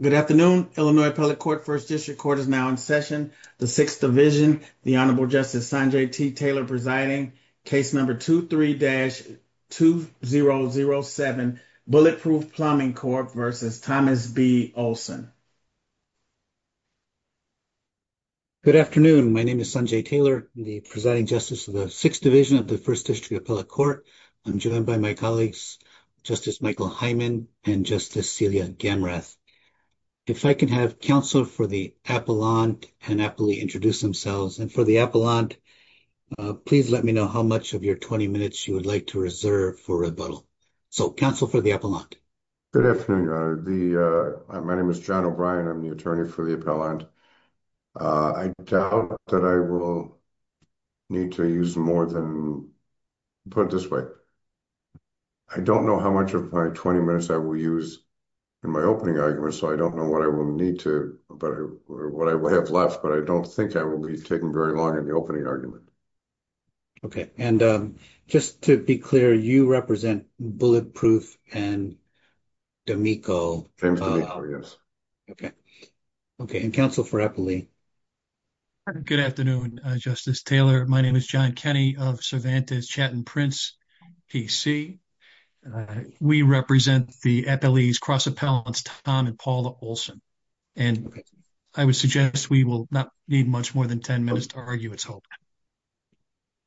Good afternoon, Illinois Appellate Court, First District Court is now in session. The Sixth Division, the Honorable Justice Sanjay T. Taylor presiding, case number 23-2007, Bulletproof Plumbing Corp. v. Thomas B. Ohlson. Good afternoon, my name is Sanjay Taylor, the presiding justice of the Sixth Division of the First District Appellate Court. I'm joined by my colleagues, Justice Michael Hyman and Justice Celia Gamrath. If I could have counsel for the appellant and happily introduce themselves and for the appellant, please let me know how much of your 20 minutes you would like to reserve for rebuttal. So counsel for the appellant. Good afternoon, your honor. My name is John O'Brien, I'm the attorney for the appellant. I doubt that I will need to use more than, put it this way, I don't know how much of my 20 minutes I will use in my opening argument, so I don't know what I will need to, what I will have left, but I don't think I will be taking very long in the opening argument. Okay, and just to be clear, you represent Bulletproof and D'Amico? James D'Amico, yes. Okay. Okay, and counsel for appellee. Good afternoon, Justice Taylor. My name is John Kenney of Cervantes Chattin Prince PC. We represent the appellee's cross appellants, Tom and Paula Olson, and I would suggest we will not need much more than 10 minutes to argue its whole.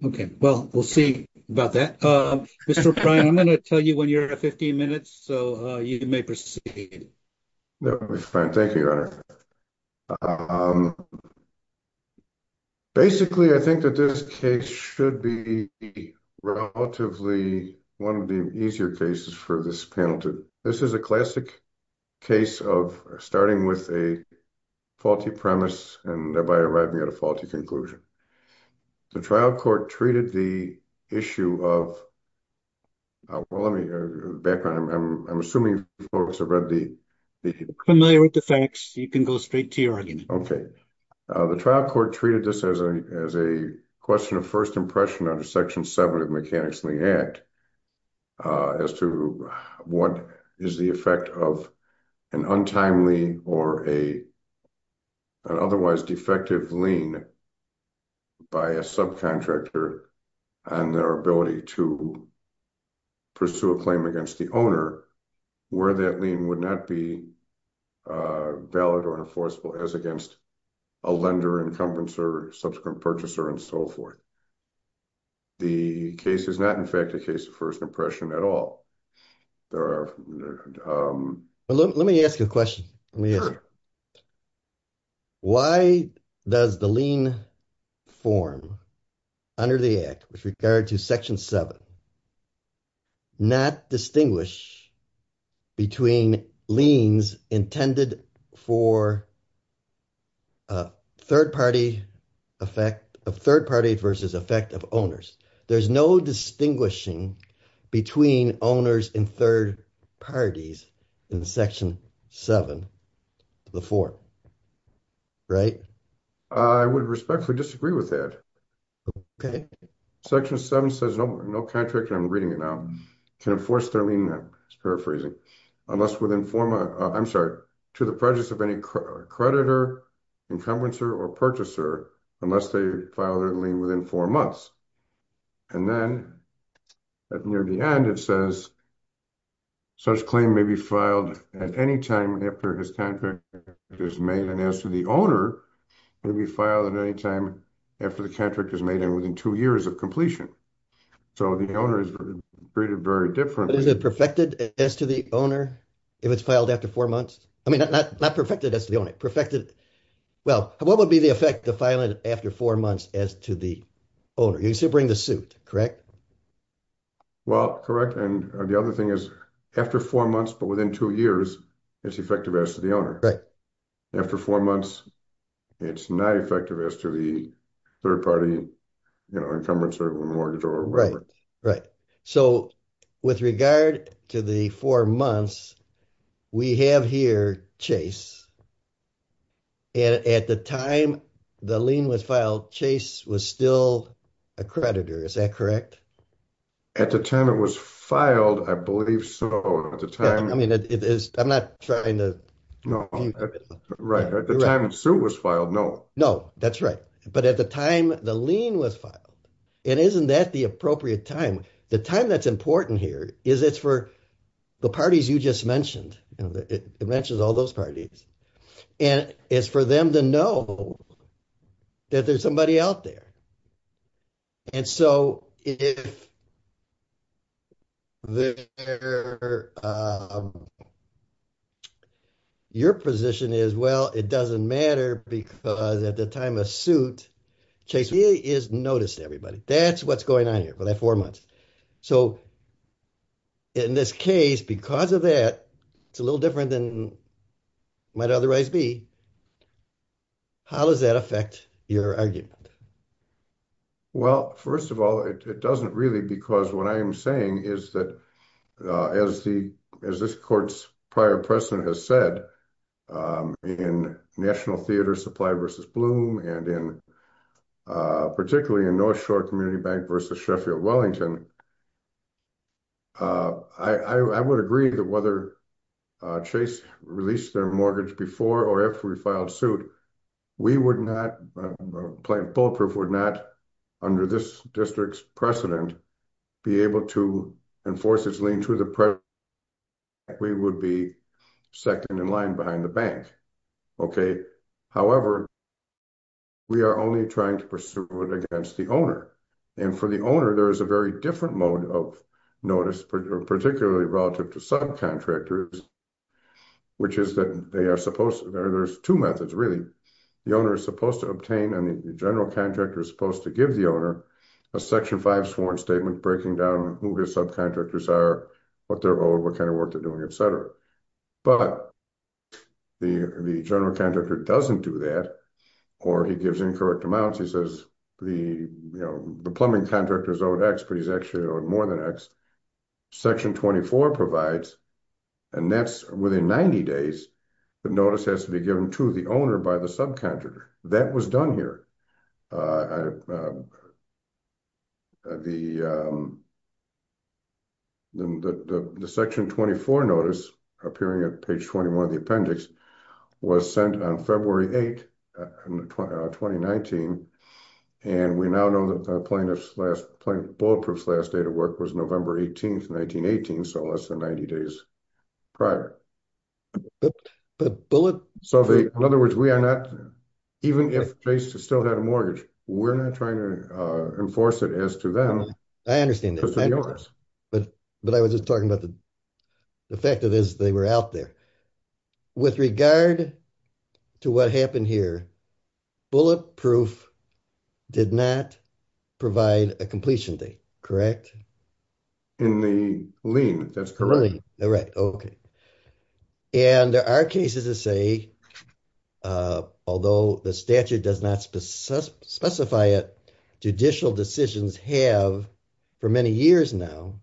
Okay, well, we'll see about that. Mr. O'Brien, I'm going to tell you when you're at 15 minutes, so you may proceed. Thank you, your honor. Basically, I think that this case should be relatively one of the easier cases for this panel to, this is a classic case of starting with a faulty premise and thereby arriving at a faulty conclusion. The trial court treated the issue of, well, let me, the background, I'm assuming folks have read the, familiar with the facts, you can go straight to your argument. Okay, the trial court treated this as a question of impression under section seven of the Mechanics' Lien Act as to what is the effect of an untimely or an otherwise defective lien by a subcontractor and their ability to pursue a claim against the owner where that lien would not be valid or enforceable as against a lender, encompasser, subsequent purchaser, and so forth. The case is not, in fact, a case of first impression at all. There are, let me ask you a question. Why does the lien form under the act with regard to section seven not distinguish between liens intended for a third-party effect, a third-party versus effect of owners? There's no distinguishing between owners and third parties in section seven to the fourth, right? I would respectfully disagree with that. Okay. Section seven says no contractor, I'm reading it now, can enforce their lien, it's paraphrasing, unless within four months, I'm sorry, to the prejudice of any creditor, encompasser, or purchaser unless they file their lien within four months. And then, at near the end, it says such claim may be filed at any time after his contract is made and as to the owner may be filed at any time after the contract is made and within two years of completion. So, the owner is treated very differently. Is it perfected as to the owner if it's filed after four months? I mean, not perfected as to the owner, perfected, well, what would be the effect to file it after four months as to the owner? You still bring the suit, correct? Well, correct, and the other thing is after four months, but within two years, it's effective as to the owner. After four months, it's not effective as to the third party, you know, encumbrance or mortgage or whatever. Right, right. So, with regard to the four months, we have here Chase, and at the time the lien was filed, Chase was still a creditor, is that correct? At the time it was filed, I believe so, at the time. I mean, it is, I'm not trying to. No, right, at the time the suit was filed, no. No, that's right, but at the time the lien was filed, and isn't that the appropriate time? The time that's important here is it's for the parties you just mentioned, you know, it mentions all those parties, and it's for them to know that there's somebody out there, and so if your position is, well, it doesn't matter because at the time of suit, Chase really has noticed everybody. That's what's going on here for that four months. So, in this case, because of that, it's a little different than it might otherwise be, how does that affect your argument? Well, first of all, it doesn't really, because what I am saying is that, as this court's prior precedent has said, in National Theater Supply versus Bloom, and in particularly in North Shore Community Bank versus Sheffield Wellington, I would agree that whether Chase released their mortgage before or after we filed suit, we would not, Plaintiff Bulletproof would not, under this district's precedent, be able to enforce its lien to the president. We would be second in line behind the bank, okay. However, we are only trying to pursue it against the owner, and for the owner, there is a very different mode of notice, particularly relative to subcontractors, which is that they are supposed, there's two methods really. The owner is supposed to obtain, and the general contractor is supposed to give the owner a Section 5 sworn statement breaking down who his subcontractors are, what they're owed, what kind of work they're doing, etc. But the general contractor doesn't do that, or he gives incorrect amounts. He says the plumbing contractor is owed X, but he's actually owed more than X. Section 24 provides, and that's within 90 days, the notice has to be given to the owner by the subcontractor. That was done here. The Section 24 notice, appearing at page 21 of the appendix, was sent on February 8, in 2019, and we now know that the plaintiff's last, Bulletproof's last date of work was November 18, 1918, so less than 90 days prior. So, in other words, we are not, even if Chase still had a mortgage, we're not trying to enforce it as to them. I understand that, but I was just talking about the fact that they were out there. With regard to what happened here, Bulletproof did not provide a completion date, correct? In the lien, that's correct. All right, okay. And there are cases to say, although the statute does not specify it, judicial decisions have, for many years now,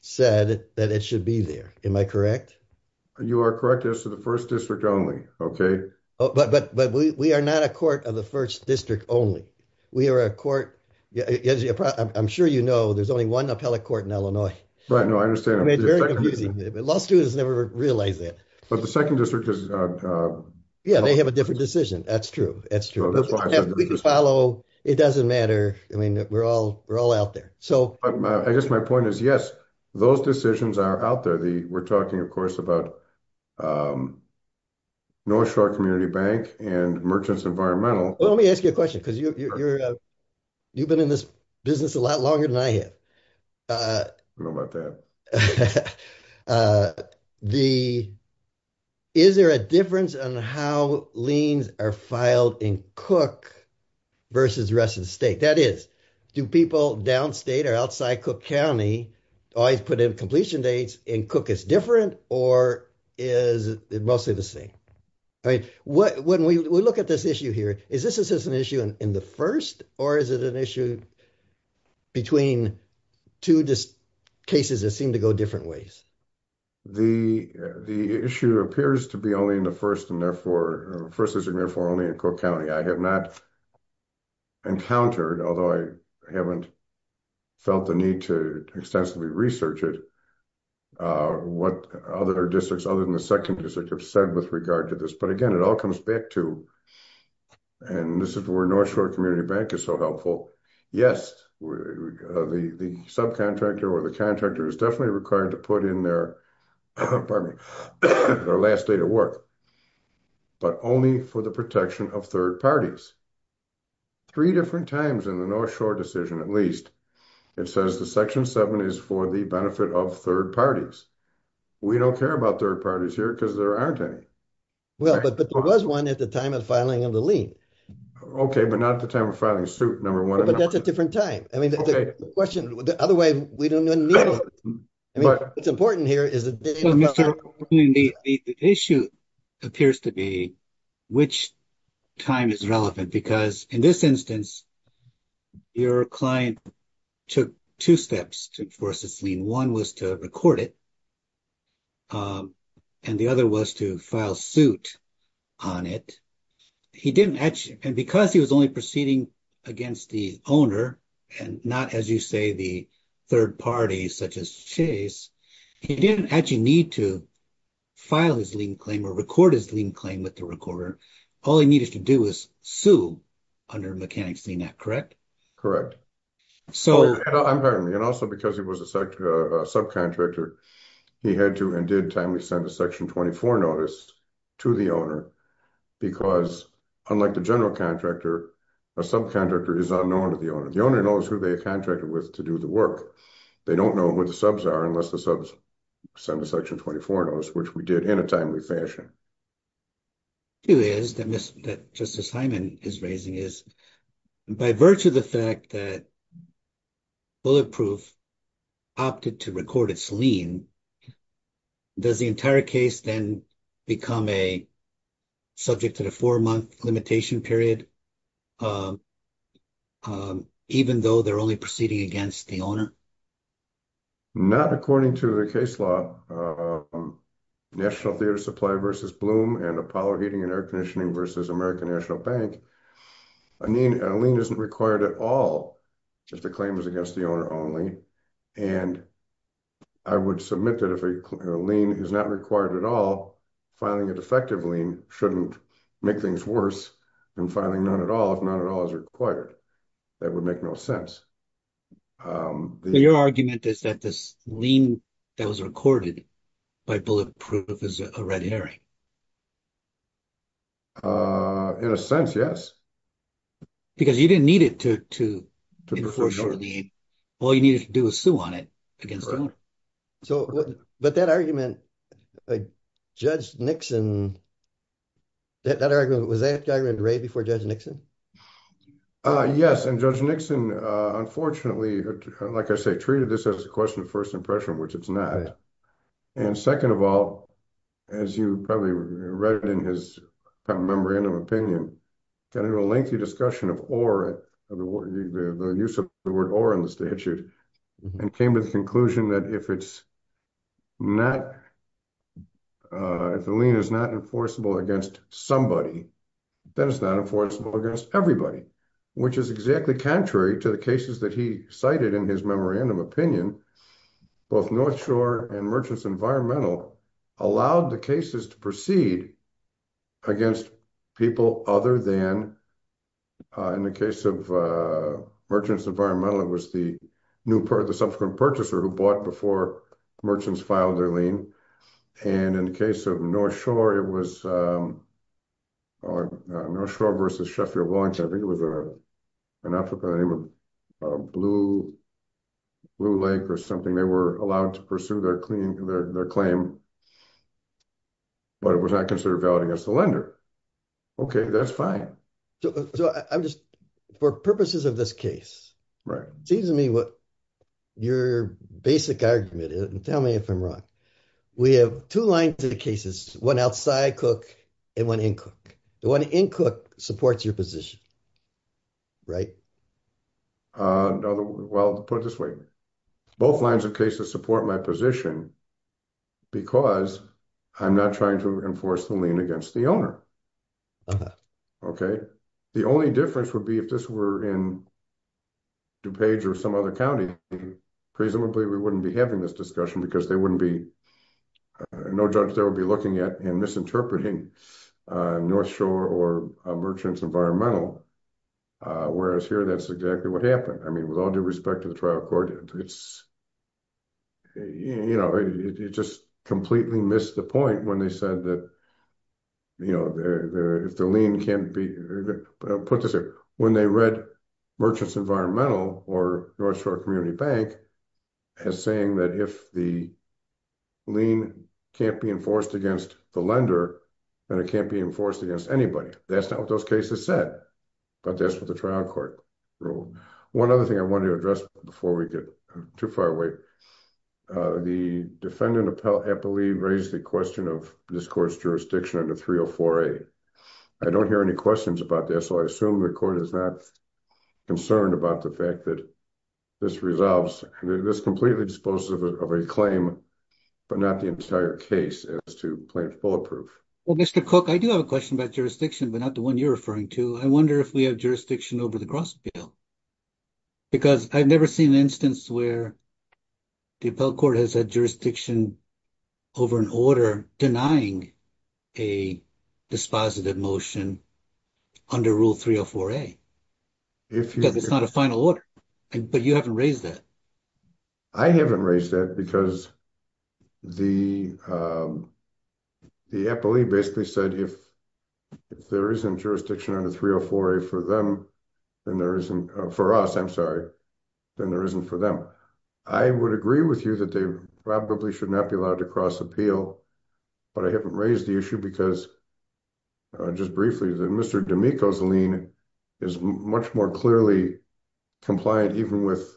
said that it should be there. Am I correct? You are correct. This is the first district only. Okay, but we are not a court of the first district only. We are a court, I'm sure you know, there's only one appellate court in Illinois. Right, no, I understand. It's very confusing. Law students never realize that. But the second district is. Yeah, they have a different decision. That's true. That's true. That's why I said. We can follow. It doesn't matter. I mean, we're all out there. I guess my point is, yes, those decisions are out there. We're talking, of course, about North Shore Community Bank and Merchants Environmental. Well, let me ask you a question because you've been in this business a lot longer than I have. I know about that. Is there a difference on how liens are filed in Cook versus rest of the state? That is, do people downstate or outside Cook County always put in completion dates in Cook? It's different, or is it mostly the same? I mean, when we look at this issue here, is this an issue in the 1st? Or is it an issue between 2 cases that seem to go different ways? The issue appears to be only in the 1st and therefore only in Cook County. I have not encountered, although I haven't felt the need to extensively research it. What other districts other than the 2nd district have said with regard to this, but again, it all comes back to. And this is where North Shore Community Bank is so helpful. Yes, the subcontractor or the contractor is definitely required to put in their last day to work. But only for the protection of 3rd parties. 3 different times in the North Shore decision, at least. It says the section 7 is for the benefit of 3rd parties. We don't care about 3rd parties here because there aren't any. Well, but there was 1 at the time of filing of the lien. Okay, but not at the time of filing suit number 1. But that's a different time. I mean, the question the other way, we don't need it. I mean, it's important here is the issue. Appears to be which time is relevant because in this instance. Your client took 2 steps to force this lien. 1 was to record it. And the other was to file suit on it. He didn't actually and because he was only proceeding against the owner and not as you say, the 3rd parties such as Chase. He didn't actually need to file his lien claim or record his lien claim with the recorder. All he needed to do is sue under Mechanics Lien Act, correct? Correct. And also because he was a subcontractor, he had to and did timely send a section 24 notice to the owner. Because unlike the general contractor, a subcontractor is unknown to the owner. The owner knows who they contracted with to do the work. They don't know what the subs are unless the subs. Send a section 24 notice, which we did in a timely fashion. It is that that just assignment is raising is by virtue of the fact that. Bulletproof opted to record its lien. Does the entire case then become a. Subject to the 4 month limitation period. Um, um, even though they're only proceeding against the owner. Not according to the case law. National theater supply versus bloom and Apollo heating and air conditioning versus American National Bank. I mean, a lien isn't required at all. If the claim is against the owner only and. I would submit that if a lien is not required at all. Finding it effectively shouldn't make things worse. And finally, not at all. If not at all is required. That would make no sense. Your argument is that this lean that was recorded. By bulletproof is a red herring. In a sense, yes. Because you didn't need it to to before shortly. All you need to do is Sue on it against. So, but that argument. Judge Nixon. That argument was that guy right before judge Nixon. Yes, and judge Nixon, unfortunately, like I say, treated this as a question of 1st impression, which it's not. And 2nd of all, as you probably read it in his. Memorandum opinion. Can I do a lengthy discussion of or the use of the word or in the statute. And came to the conclusion that if it's. Not if the lien is not enforceable against somebody. That is not enforceable against everybody, which is exactly contrary to the cases that he cited in his memorandum opinion. Both North Shore and merchants environmental allowed the cases to proceed. Against people other than. In the case of merchants environmental, it was the new part of the subsequent purchaser who bought before. Merchants filed their lien and in the case of North Shore, it was. No, sure. Versus Sheffield launch. I think it was an African name of blue. Blue Lake or something they were allowed to pursue their clean their claim. But it was not considered valid against the lender. Okay, that's fine. So I'm just for purposes of this case, right? Seems to me what your basic argument is and tell me if I'm wrong. We have 2 lines of cases, 1 outside cook and 1 in cook. The 1 in cook supports your position. Right? Well, put it this way. Both lines of cases support my position. Because I'm not trying to enforce the lien against the owner. Okay, the only difference would be if this were in. DuPage or some other county. Presumably, we wouldn't be having this discussion because they wouldn't be. No, judge, there will be looking at and misinterpreting. North Shore or merchants environmental. Whereas here, that's exactly what happened. I mean, with all due respect to the trial court, it's. You know, it just completely missed the point when they said that. You know, if the lien can't be put this when they read. Merchants environmental or North Shore community bank. As saying that if the. Lean can't be enforced against the lender. And it can't be enforced against anybody. That's not what those cases said. But that's what the trial court rule. 1 other thing I wanted to address before we get too far away. Uh, the defendant appellee raised the question of this course jurisdiction under 3 or 4. I don't hear any questions about this. So I assume the court is not. Concerned about the fact that. This resolves this completely disposed of a claim. But not the entire case as to plaintiff bulletproof. Well, Mr cook, I do have a question about jurisdiction, but not the 1 you're referring to. I wonder if we have jurisdiction over the cross. Bill, because I've never seen an instance where. The court has a jurisdiction over an order denying. A dispositive motion. Under rule 3 or 4. A, if it's not a final order, but you haven't raised that. I haven't raised that because the. The appellee basically said, if there isn't jurisdiction under 3 or 4 for them. And there isn't for us, I'm sorry. Then there isn't for them. I would agree with you that they probably should not be allowed to cross appeal. But I haven't raised the issue because. Just briefly, the Mr is much more clearly. Compliant, even with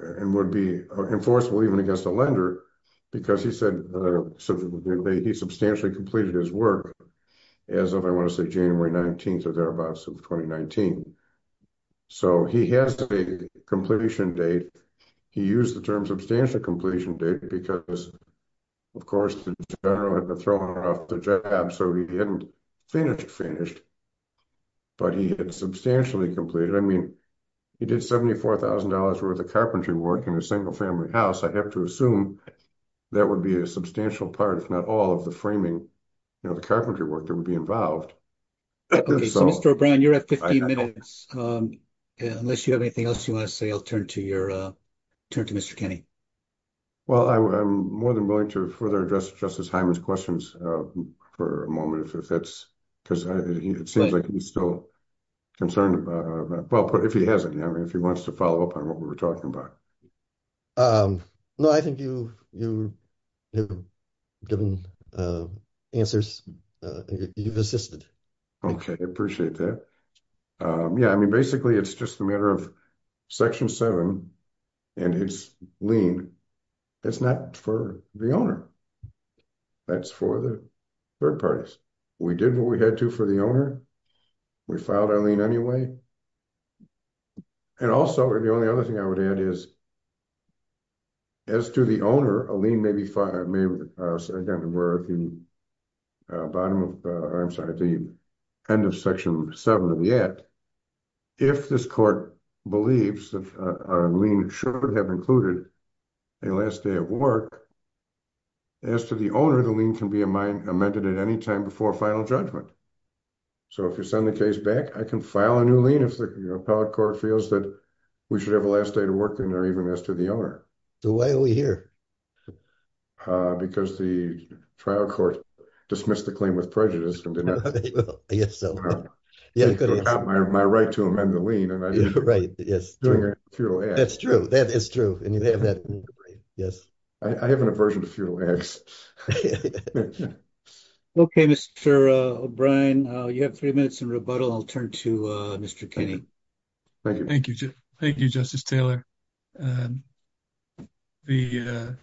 and would be enforceable, even against a lender. Because he said he substantially completed his work. As if I want to say January 19th or thereabouts of 2019. So he has a completion date. He used the term substantial completion date because. Of course, the general had to throw her off the job. So he didn't finish finished. But he had substantially completed. I mean, he did 74,000 dollars worth of carpentry work in a single family house. I have to assume that would be a substantial part. Not all of the framing. You know, the carpentry work that would be involved. Okay, so Mr. O'Brien, you're at 15 minutes. Unless you have anything else you want to say, I'll turn to your. Turn to Mr. Kenny. Well, I'm more than willing to further address justice. Hyman's questions for a moment if that's. Because it seems like he's still. Concerned about if he hasn't, if he wants to follow up on what we were talking about. Um, no, I think you, you. Given answers, you've assisted. Okay, I appreciate that. Yeah, I mean, basically, it's just a matter of. Section 7 and it's lean. It's not for the owner. That's for the 3rd parties. We did what we had to for the owner. We found our lean anyway. And also, the only other thing I would add is. As to the owner, a lean, maybe 5 may work. Bottom of the end of section 7 of the act. If this court believes that we should have included. The last day of work. As to the owner, the lean can be a mind amended at any time before final judgment. So, if you send the case back, I can file a new lien if the court feels that. We should have a last day to work in there. Even as to the owner. So, why are we here? Because the trial court dismissed the claim with prejudice. Yes. My right to amend the lean. Right? Yes, that's true. That is true. And you have that. Yes, I have an aversion to. Okay, Mr. O'Brien, you have 3 minutes and rebuttal. I'll turn to Mr. Kenny. Thank you. Thank you. Justice Taylor. The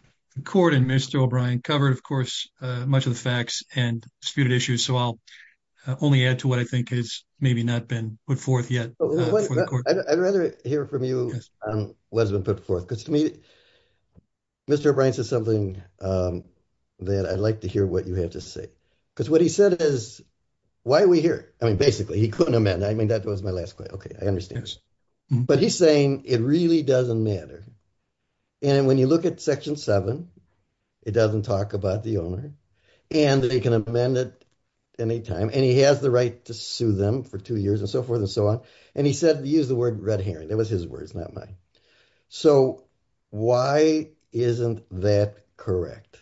court and Mr. O'Brien covered, of course, much of the facts and disputed issues. So, I'll only add to what I think is maybe not been put forth yet. I'd rather hear from you what has been put forth because to me. Mr. O'Brien says something that I'd like to hear what you have to say. Because what he said is. Why are we here? I mean, basically, he couldn't amend. I mean, that was my last question. Okay, I understand. But he's saying it really doesn't matter. And when you look at section 7, it doesn't talk about the owner. And they can amend it. Anytime and he has the right to sue them for 2 years and so forth and so on. And he said, use the word red herring. It was his words, not mine. So, why isn't that correct?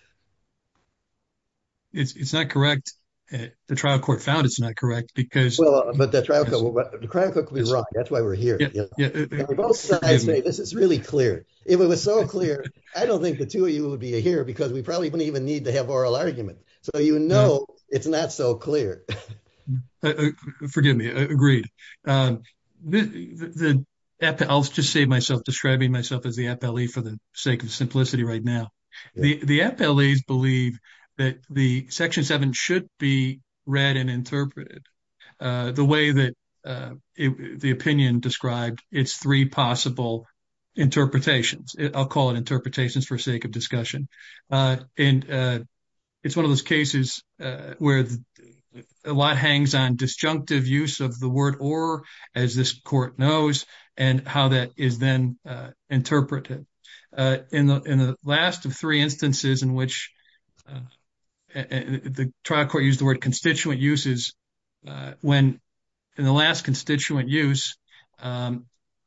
It's not correct. The trial court found it's not correct because. Well, but the trial court could be wrong. That's why we're here. Both sides say this is really clear. If it was so clear, I don't think the 2 of you would be here. Because we probably don't even need to have oral argument. So, you know, it's not so clear. Forgive me. Agreed. I'll just say myself, describing myself as the FLE for the sake of simplicity right now. The FLEs believe that the section 7 should be read and interpreted. The way that the opinion described, it's 3 possible interpretations. I'll call it interpretations for sake of discussion. And it's 1 of those cases where a lot hangs on disjunctive use of the word as this court knows and how that is then interpreted. In the last of 3 instances in which the trial court used the word constituent uses. When in the last constituent use,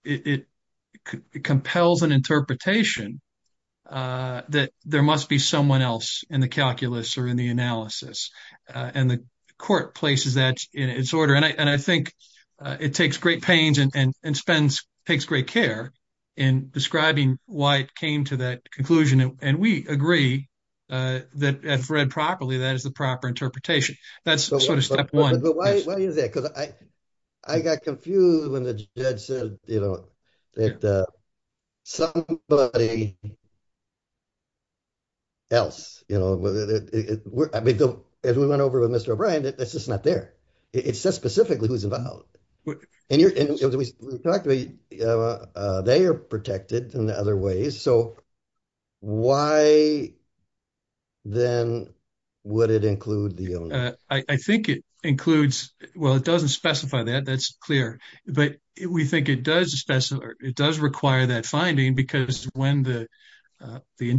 it compels an interpretation that there must be someone else in the calculus or in the analysis. And the court places that in its order. And I think it takes great pains and spends, takes great care in describing why it came to that conclusion. And we agree that if read properly, that is the proper interpretation. That's sort of step 1. But why is that? Because I got confused when the judge said, you know, that somebody else, you know. I mean, as we went over with Mr. O'Brien, that's just not there. It says specifically who's involved. And we talked about they are protected in other ways. So why then would it include the owner? I think it includes, well, it doesn't specify that. That's clear. But we think it does require that finding because when the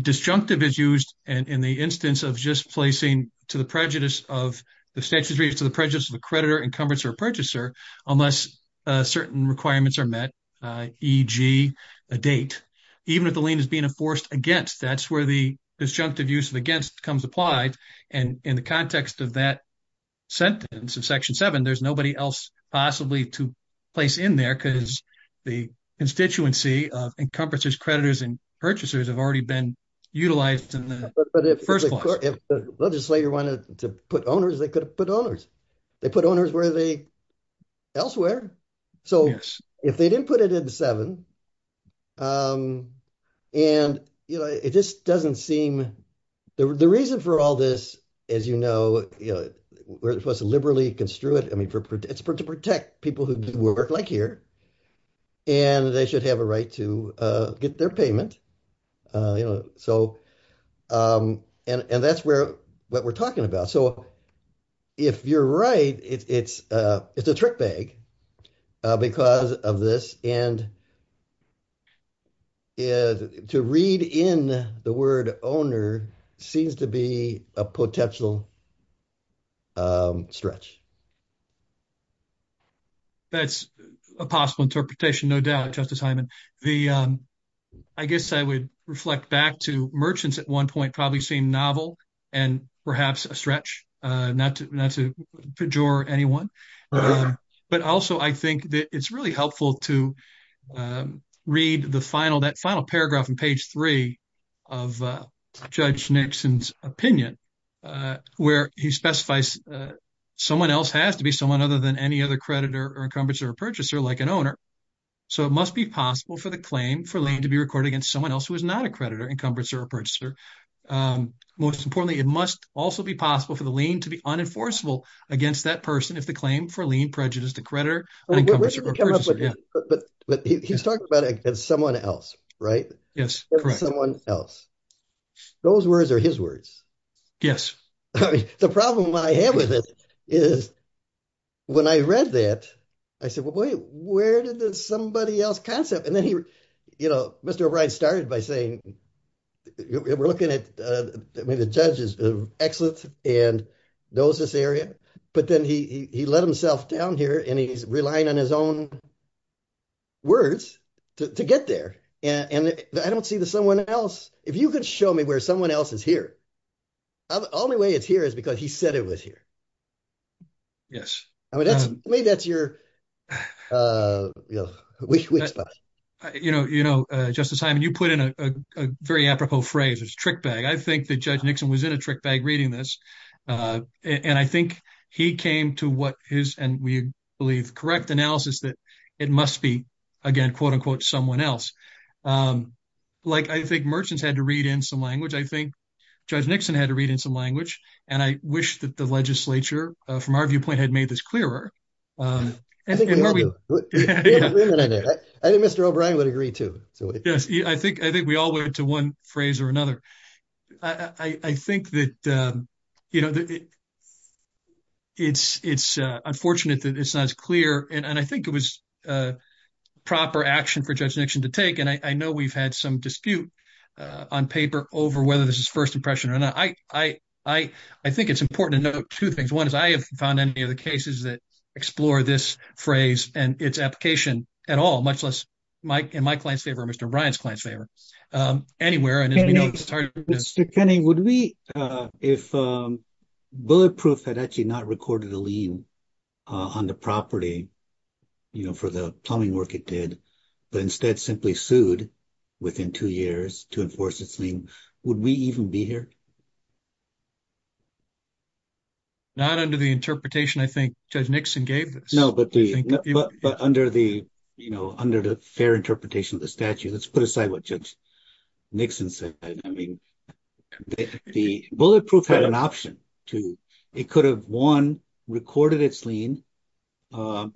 disjunctive is used and in the instance of just placing to the prejudice of the statutory, to the prejudice of the creditor, encumbrance, or purchaser, unless certain requirements are met, e.g. a date, even if the lien is being enforced against, that's where the disjunctive use of against comes applied. And in the context of that sentence of Section 7, there's nobody else possibly to place in there because the constituency of encumbrances, creditors, and purchasers have already been utilized in the first place. But if the legislator wanted to put owners, they could have put owners. They put owners where they, elsewhere. So if they didn't put it in 7, and, you know, it just doesn't seem, the reason for all this, as you know, we're supposed to liberally construe it. I mean, it's to protect people who work like here. And they should have a right to get their payment. You know, so, and that's what we're talking about. So if you're right, it's a trick bag because of this. And to read in the word owner seems to be a potential stretch. That's a possible interpretation, no doubt, Justice Hyman. The, I guess I would reflect back to merchants at one point, probably seem novel and perhaps a stretch, not to pejor anyone. But also, I think that it's really helpful to read the final, that final paragraph on page 3 of Judge Nixon's opinion, where he specifies someone else has to be someone other than any other creditor or encumbrance or purchaser, like an owner. So it must be possible for the claim for lien to be recorded against someone else who is not a creditor, encumbrance, or a purchaser. Most importantly, it must also be possible for the lien to be unenforceable against that person if the claim for lien prejudice the creditor. But he's talking about someone else, right? Yes, correct. Someone else. Those words are his words. Yes. The problem I have with it is when I read that, I said, where did the somebody else concept? And then he, you know, Mr. O'Brien started by saying, we're looking at, I mean, the judge is excellent and knows this area, but then he let himself down here and he's relying on his own words to get there. And I don't see the someone else. If you could show me where someone else is here, the only way it's here is because he said it was here. Yes. Maybe that's your weak spot. You know, Justice Hyman, you put in a very apropos phrase. It's trick bag. I think that Judge Nixon was in a trick bag reading this. And I think he came to what is, and we believe, correct analysis that it must be, again, quote unquote, someone else. Like, I think merchants had to read in some language. I think Judge Nixon had to read in some language. And I wish that the legislature from our viewpoint had made this clearer. I think Mr. O'Brien would agree too. So I think we all went to one phrase or another. I think that, you know, it's unfortunate that it's not as clear. And I think it was proper action for Judge Nixon to take. And I know we've had some dispute on paper over whether this is first impression or not. I think it's important to note two things. One is I have found any of the cases that explore this phrase and its application at all, much less in my client's favor or Mr. O'Brien's client's favor. Anywhere. And as we know, it's hard to- Mr. Kenney, would we, if Bulletproof had actually not recorded a lien on the property, you know, for the plumbing work it did, but instead simply sued within two years to enforce its lien, would we even be here? Not under the interpretation I think Judge Nixon gave us. No, but under the, you know, under the fair interpretation of the statute, let's put aside what Judge Nixon said. I mean, the Bulletproof had an option to, it could have one, recorded its lien, or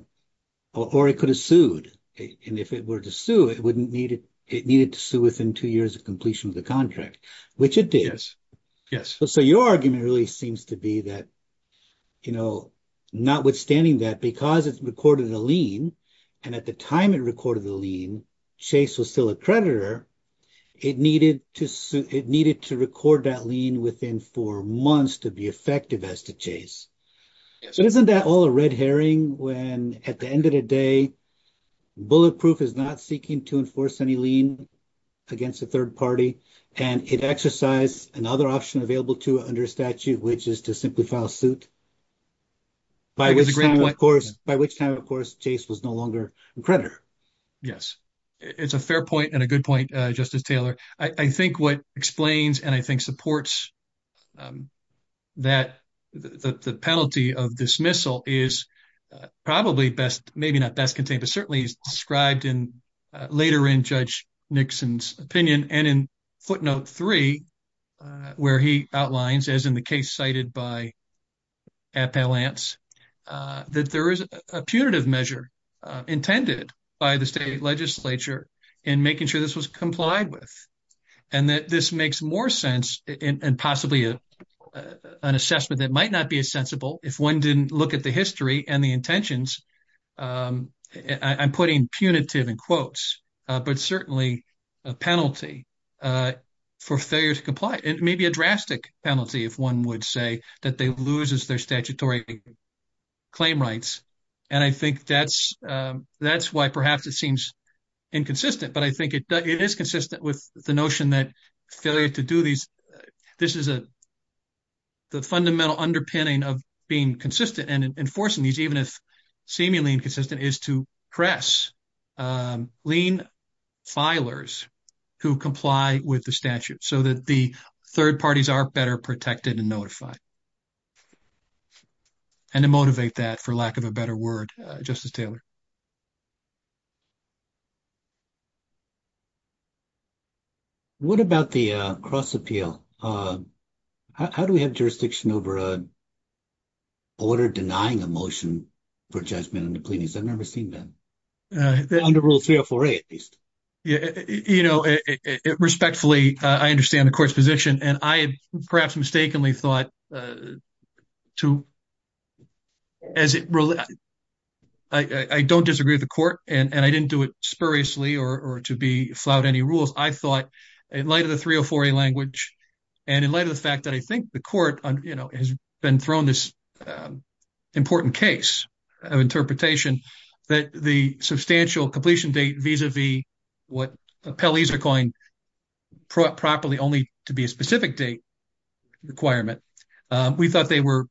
it could have sued. And if it were to sue, it wouldn't need it. It needed to sue within two years of completion of the contract, which it did. Yes. So your argument really seems to be that, you know, notwithstanding that, because it's recorded a lien and at the time it recorded the lien, Chase was still a creditor. It needed to record that lien within four months to be effective as to Chase. So isn't that all a red herring when at the end of the day, Bulletproof is not seeking to enforce any lien against a third party and it exercised another option available to it under a statute, which is to simply file suit? By which time, of course, Chase was no longer a creditor. Yes, it's a fair point and a good point, Justice Taylor. I think what explains and I think supports that the penalty of dismissal is probably best, not best contained, but certainly described in later in Judge Nixon's opinion and in footnote three, where he outlines, as in the case cited by Appellants, that there is a punitive measure intended by the state legislature in making sure this was complied with. And that this makes more sense and possibly an assessment that might not be sensible if one didn't look at the history and the intentions. I'm putting punitive in quotes, but certainly a penalty for failure to comply. It may be a drastic penalty if one would say that they lose their statutory claim rights. And I think that's why perhaps it seems inconsistent, but I think it is consistent with the notion that failure to do this is the fundamental underpinning of being consistent and enforcing these, even if seemingly inconsistent, is to press lien filers who comply with the statute so that the third parties are better protected and notified. And to motivate that, for lack of a better word, Justice Taylor. What about the cross-appeal? How do we have jurisdiction over a order denying a motion for judgment in the pleadings? I've never seen that. Under Rule 304A, at least. You know, respectfully, I understand the Court's position, and I had perhaps mistakenly thought to, as it relates, I don't disagree with the Court, and I didn't do it spuriously or to be I thought, in light of the 304A language and in light of the fact that I think the Court, you know, has been thrown this important case of interpretation, that the substantial completion date vis-a-vis what appellees are calling properly only to be a specific date requirement, we thought they were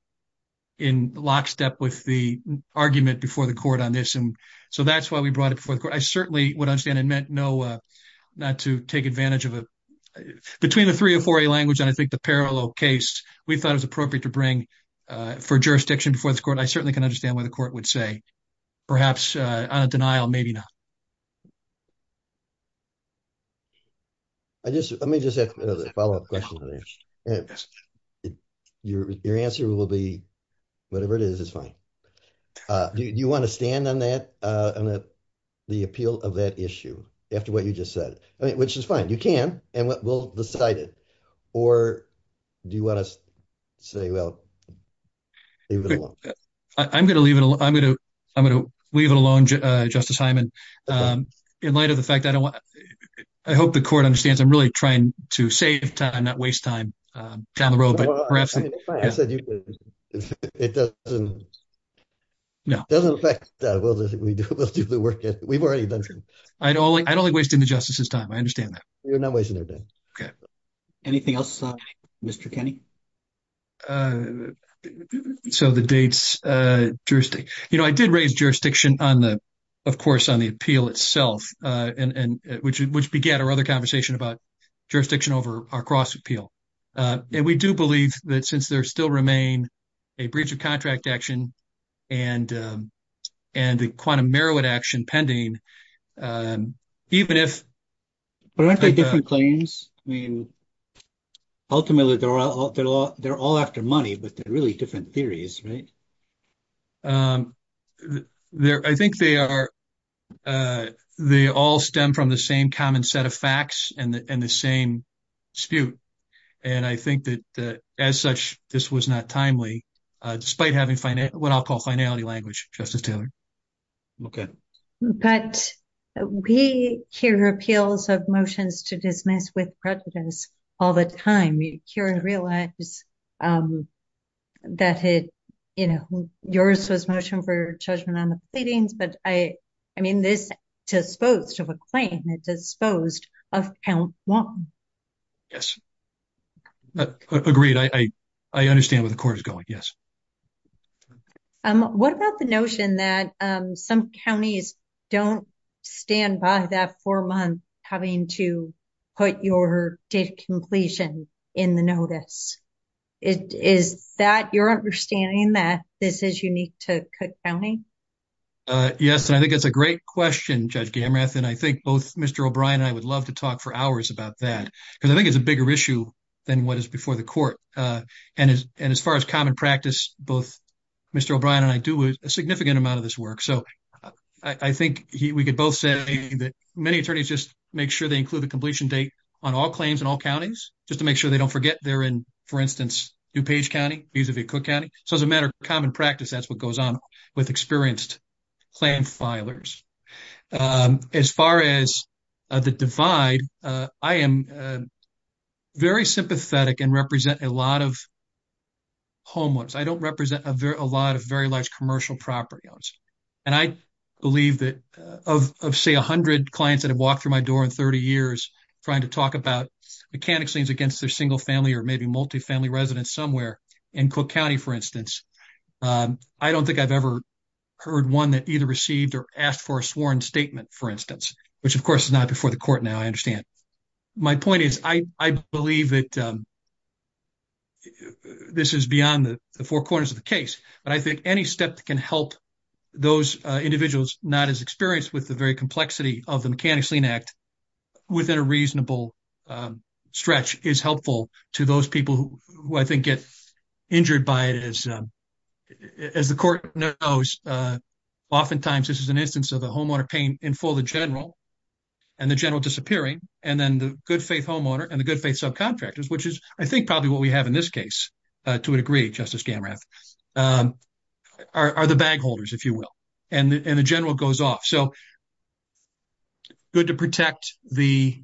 in lockstep with the argument before the Court on this, and so that's why we brought it before the Court. I certainly would understand it meant no to take advantage of a, between the 304A language and I think the parallel case, we thought it was appropriate to bring for jurisdiction before the Court. I certainly can understand what the Court would say. Perhaps on a denial, maybe not. I just, let me just ask a follow-up question. Your answer will be whatever it is, it's fine. Do you want to stand on that, on the appeal of that issue, after what you just said? I mean, which is fine, you can, and we'll decide it. Or do you want to say, well, leave it alone? I'm going to leave it alone. I'm going to, I'm going to leave it alone, Justice Hyman. In light of the fact, I don't want, I hope the Court understands I'm really trying to save time, not waste time down the road, but perhaps... It's fine, I said you could, it doesn't, it doesn't affect, we'll do the work, we've already done some. I'd only, I'd only be wasting the Justice's time, I understand that. You're not wasting their time. Okay. Anything else, Mr. Kenney? So the dates, jurisdiction, you know, I did raise jurisdiction on the, of course, on the appeal itself, and, and which, which began our other conversation about jurisdiction over our cross appeal. And we do believe that since there still remain a breach of contract action and, and the quantum Merowit action pending, even if... But aren't they different claims? I mean, ultimately, they're all, they're all, they're all after money, but they're really different theories, right? I think they are, they all stem from the same common set of facts and the, and the same dispute. And I think that as such, this was not timely, despite having finite, what I'll call finality language, Justice Taylor. Okay. But we hear appeals of motions to dismiss with prejudice all the time. We hear and realize that it, you know, yours was motion for judgment on the pleadings, but I, I mean, this disposed of a claim, it disposed of count one. Yes. Agreed. I, I, I understand where the court is going. Yes. What about the notion that some counties don't stand by that for a month having to put your date of completion in the notice? Is that your understanding that this is unique to Cook County? Yes. And I think that's a great question, Judge Gamrath. And I think both Mr. O'Brien, I would love to talk for hours about that because I think it's a bigger issue than what is before the court. And as, and as far as common practice, both Mr. O'Brien and I do a significant amount of this work. So I think he, we could both say that many attorneys just make sure they include the completion date on all claims in all counties, just to make sure they don't forget they're in, for instance, DuPage County, vis-a-vis Cook County. So as a matter of common practice, that's what goes on with experienced claim filers. As far as the divide, I am very sympathetic and represent a lot of homeless. I don't represent a very, a lot of very large commercial property owners. And I believe that of, of say a hundred clients that have walked through my door in 30 years trying to talk about mechanic's liens against their single family or maybe multi-family residence somewhere in Cook County, for instance. I don't think I've ever heard one that either received or asked for a sworn statement, for instance, which of course is not before the court now, I understand. My point is, I believe that this is beyond the four corners of the case, but I think any step that can help those individuals not as experienced with the very complexity of the Mechanic's Lien Act within a reasonable stretch is helpful to those people who I think get injured by it. As, as the court knows, oftentimes this is an instance of the homeowner paying in full the general and the general disappearing. And then the good faith homeowner and the good faith subcontractors, which is I think probably what we have in this case, to a degree, Justice Gamrath, are the bag holders, if you will. And the general goes off. So good to protect the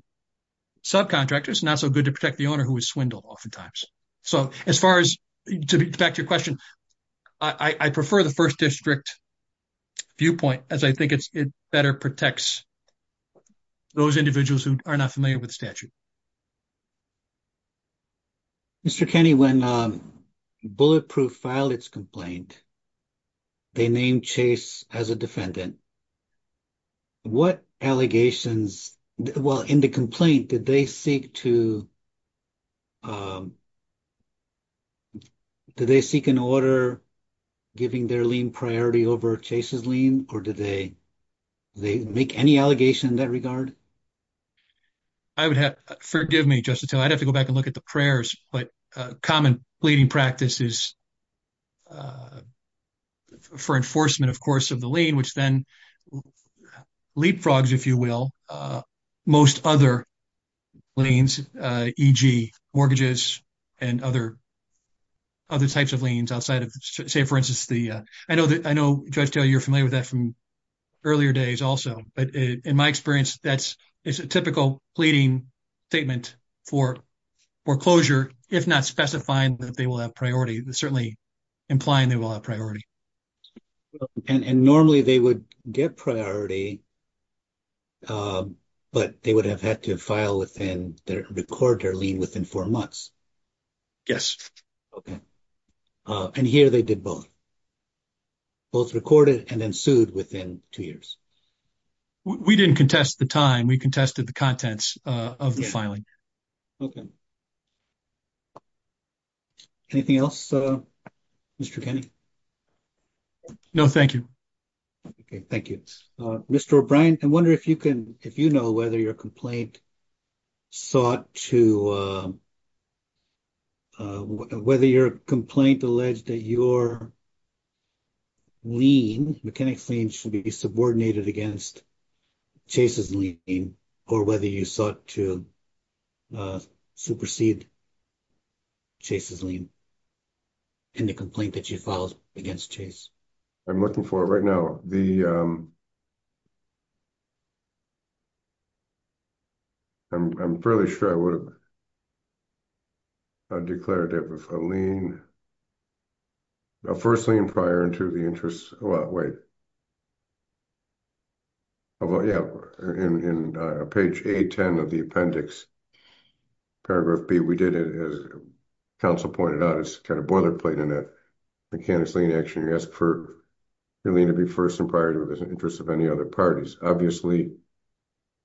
subcontractors, not so good to protect the owner who was swindled oftentimes. So as far as, back to your question, I prefer the first district viewpoint as I think it better protects those individuals who are not familiar with the statute. Mr. Kenny, when Bulletproof filed its complaint, they named Chase as a defendant. What allegations, well, in the case of Chase, did they seek an order giving their lien priority over Chase's lien, or did they, did they make any allegation in that regard? I would have, forgive me, Justice Hill, I'd have to go back and look at the prayers, but common pleading practice is for enforcement, of course, of the lien, which then leapfrogs, if you will, most other liens, e.g. mortgages and other, other types of liens outside of, say, for instance, the, I know that, I know, Judge Taylor, you're familiar with that from earlier days also, but in my experience, that's, it's a typical pleading statement for foreclosure, if not specifying that they will have priority, certainly implying they will have priority. Well, and normally they would get priority, but they would have had to file within, record their lien within four months. Yes. Okay. And here they did both, both recorded and then sued within two years. We didn't contest the time, we contested the No, thank you. Okay. Thank you. Mr. O'Brien, I wonder if you can, if you know whether your complaint sought to, whether your complaint alleged that your lien, mechanic's lien should be subordinated against Chase's lien, or whether you sought to supersede Chase's lien in the complaint that you filed against Chase. I'm looking for it right now. The, I'm fairly sure I would have declared it with a lien, a first lien prior to the interest. Well, wait. Although, yeah, in page 810 of the appendix, paragraph B, we did it as counsel pointed out, it's kind of boilerplate in a mechanic's lien action. You ask for your lien to be first and prior to the interest of any other parties. Obviously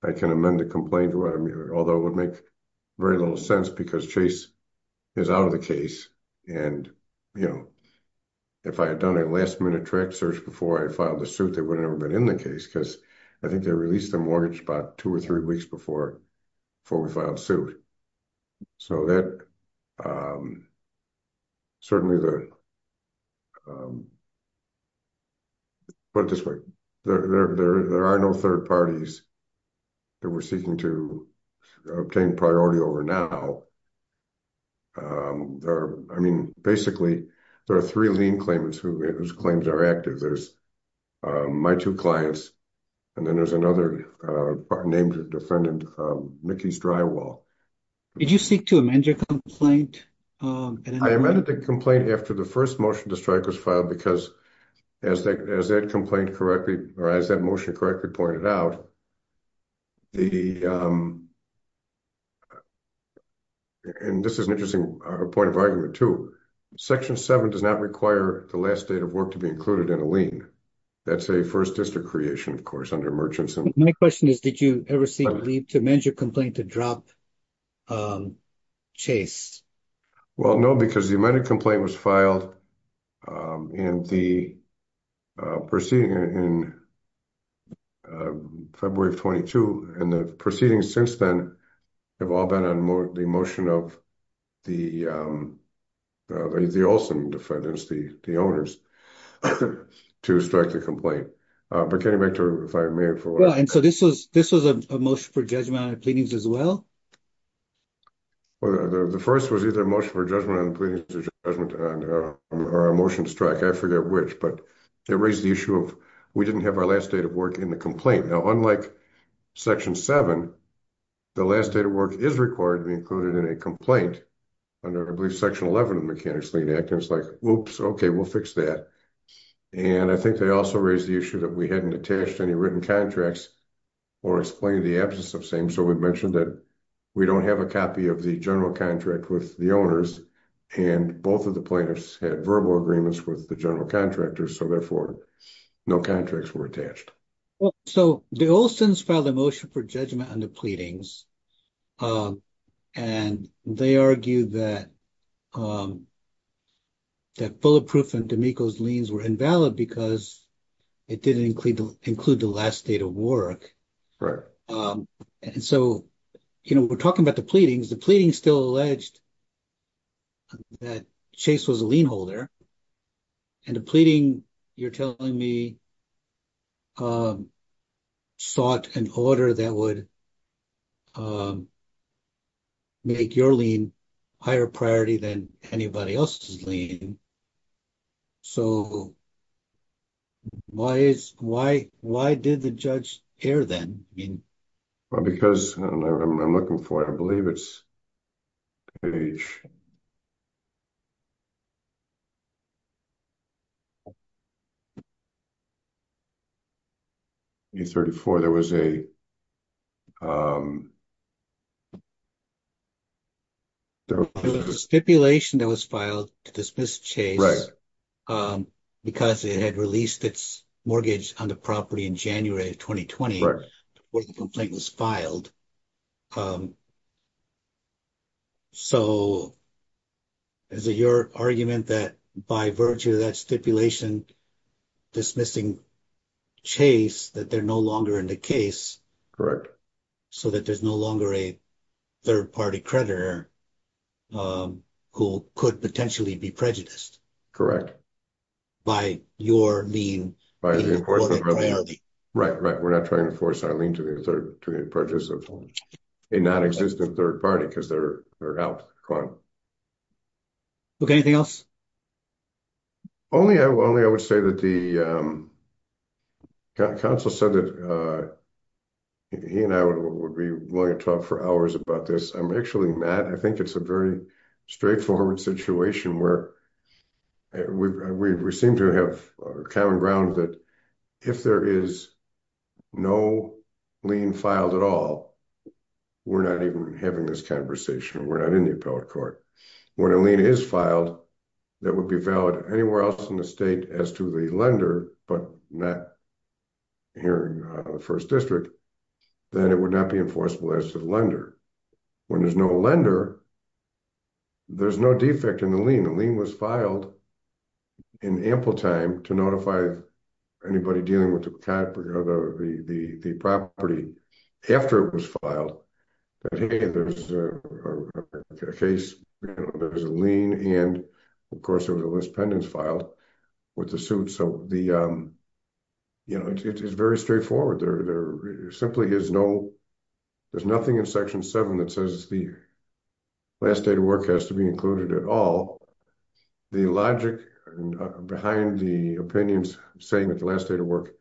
I can amend the complaint, although it would make very little sense because Chase is out of the case. And, you know, if I had done a last minute track search before I filed the suit, they would have never been in the case because I think they released the mortgage about two or three weeks before we filed suit. So that, certainly the, put it this way, there are no third parties that were seeking to, obtain priority over now. There are, I mean, basically there are three lien claimants whose claims are active. There's my two clients, and then there's another named defendant, Mickey Strywall. Did you seek to amend your complaint? I amended the complaint after the first motion to strike was filed because as that complaint correctly, or as that motion correctly pointed out, the, and this is an interesting point of argument too, section seven does not require the last date of work to be included in a lien. That's a first district creation, of course, under merchants. My question is, did you ever seek to amend your complaint to drop chase? Well, no, because the amended complaint was filed in the proceeding in February of 22. And the proceedings since then have all been on the motion of the Olson defendants, the owners, to strike the complaint. But getting back to if I may, for one. And so this was a motion for judgment on the pleadings as well? Well, the 1st was either a motion for judgment on the pleadings or a motion to strike. I forget which, but it raised the issue of we didn't have our last date of work in the complaint. Now, unlike section 7, the last date of work is required to be included in a complaint under, I believe, section 11 of the Mechanics Lien Act. And it's like, oops, okay, we'll fix that. And I think they also raised the issue that we hadn't attached any written contracts or explained the absence of same. So we've mentioned that we don't have a copy of the general contract with the owners. And both of the plaintiffs had verbal agreements with the general contractors. So therefore, no contracts were attached. So the Olson's filed a motion for judgment on the pleadings. And they argued that Bulletproof and D'Amico's liens were invalid because it didn't include the last date of work. And so, you know, we're talking about the pleadings. The pleadings still alleged that Chase was a lien holder. And the pleading, you're telling me, sought an order that would make your lien a higher priority than anybody else's lien. So why did the judge err then? Well, because, I don't know, I'm looking for it. I believe it's page A34. There was a stipulation that was filed to dismiss Chase because it had released its mortgage on the So is it your argument that by virtue of that stipulation, dismissing Chase, that they're no longer in the case? Correct. So that there's no longer a third-party creditor who could potentially be prejudiced? Correct. By your lien being a higher priority. Right, right. We're not trying to force our lien to be a third-party prejudice of a non-existent third-party because they're out. Okay, anything else? Only I would say that the counsel said that he and I would be willing to talk for hours about this. I'm actually not. I think it's a very straightforward situation where we seem to have common ground that if there is no lien filed at all, we're not even having this conversation. We're not in the appellate court. When a lien is filed, that would be valid anywhere else in the state as to the lender, but not here in the First District, then it would not be enforceable as to the lender. When there's no lender, there's no defect in the lien. The lien was filed in ample time to notify anybody dealing with the property after it was filed, that hey, there's a case, there's a lien, and of course, there was a list of pendants filed with the suit. So it's very straightforward. There simply is no, there's nothing in Section 7 that says the last date of work has to be included at all. The logic behind the opinions saying that the last date of work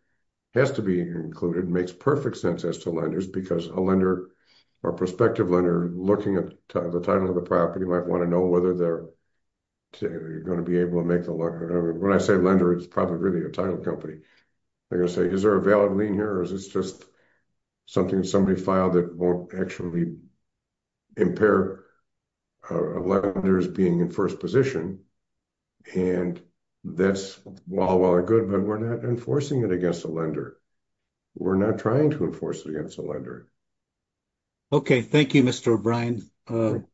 has to be included makes perfect sense as to lenders because a lender or prospective lender looking at the title of the property might want to know whether they're going to be able to make the loan. When I say lender, it's probably really a title company. They're going to say, is there a valid lien here or is this just something somebody filed that won't actually impair a lender's being in first position? And that's all well and good, but we're not enforcing it against a lender. We're not trying to enforce it against a lender. Okay. Thank you, Mr. O'Brien. The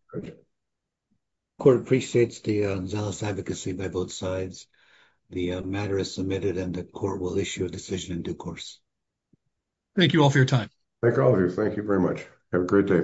court appreciates the zealous advocacy by both sides. The matter is submitted and the court will issue a decision in due course. Thank you all for your time. Thank all of you. Thank you very much. Have a great day.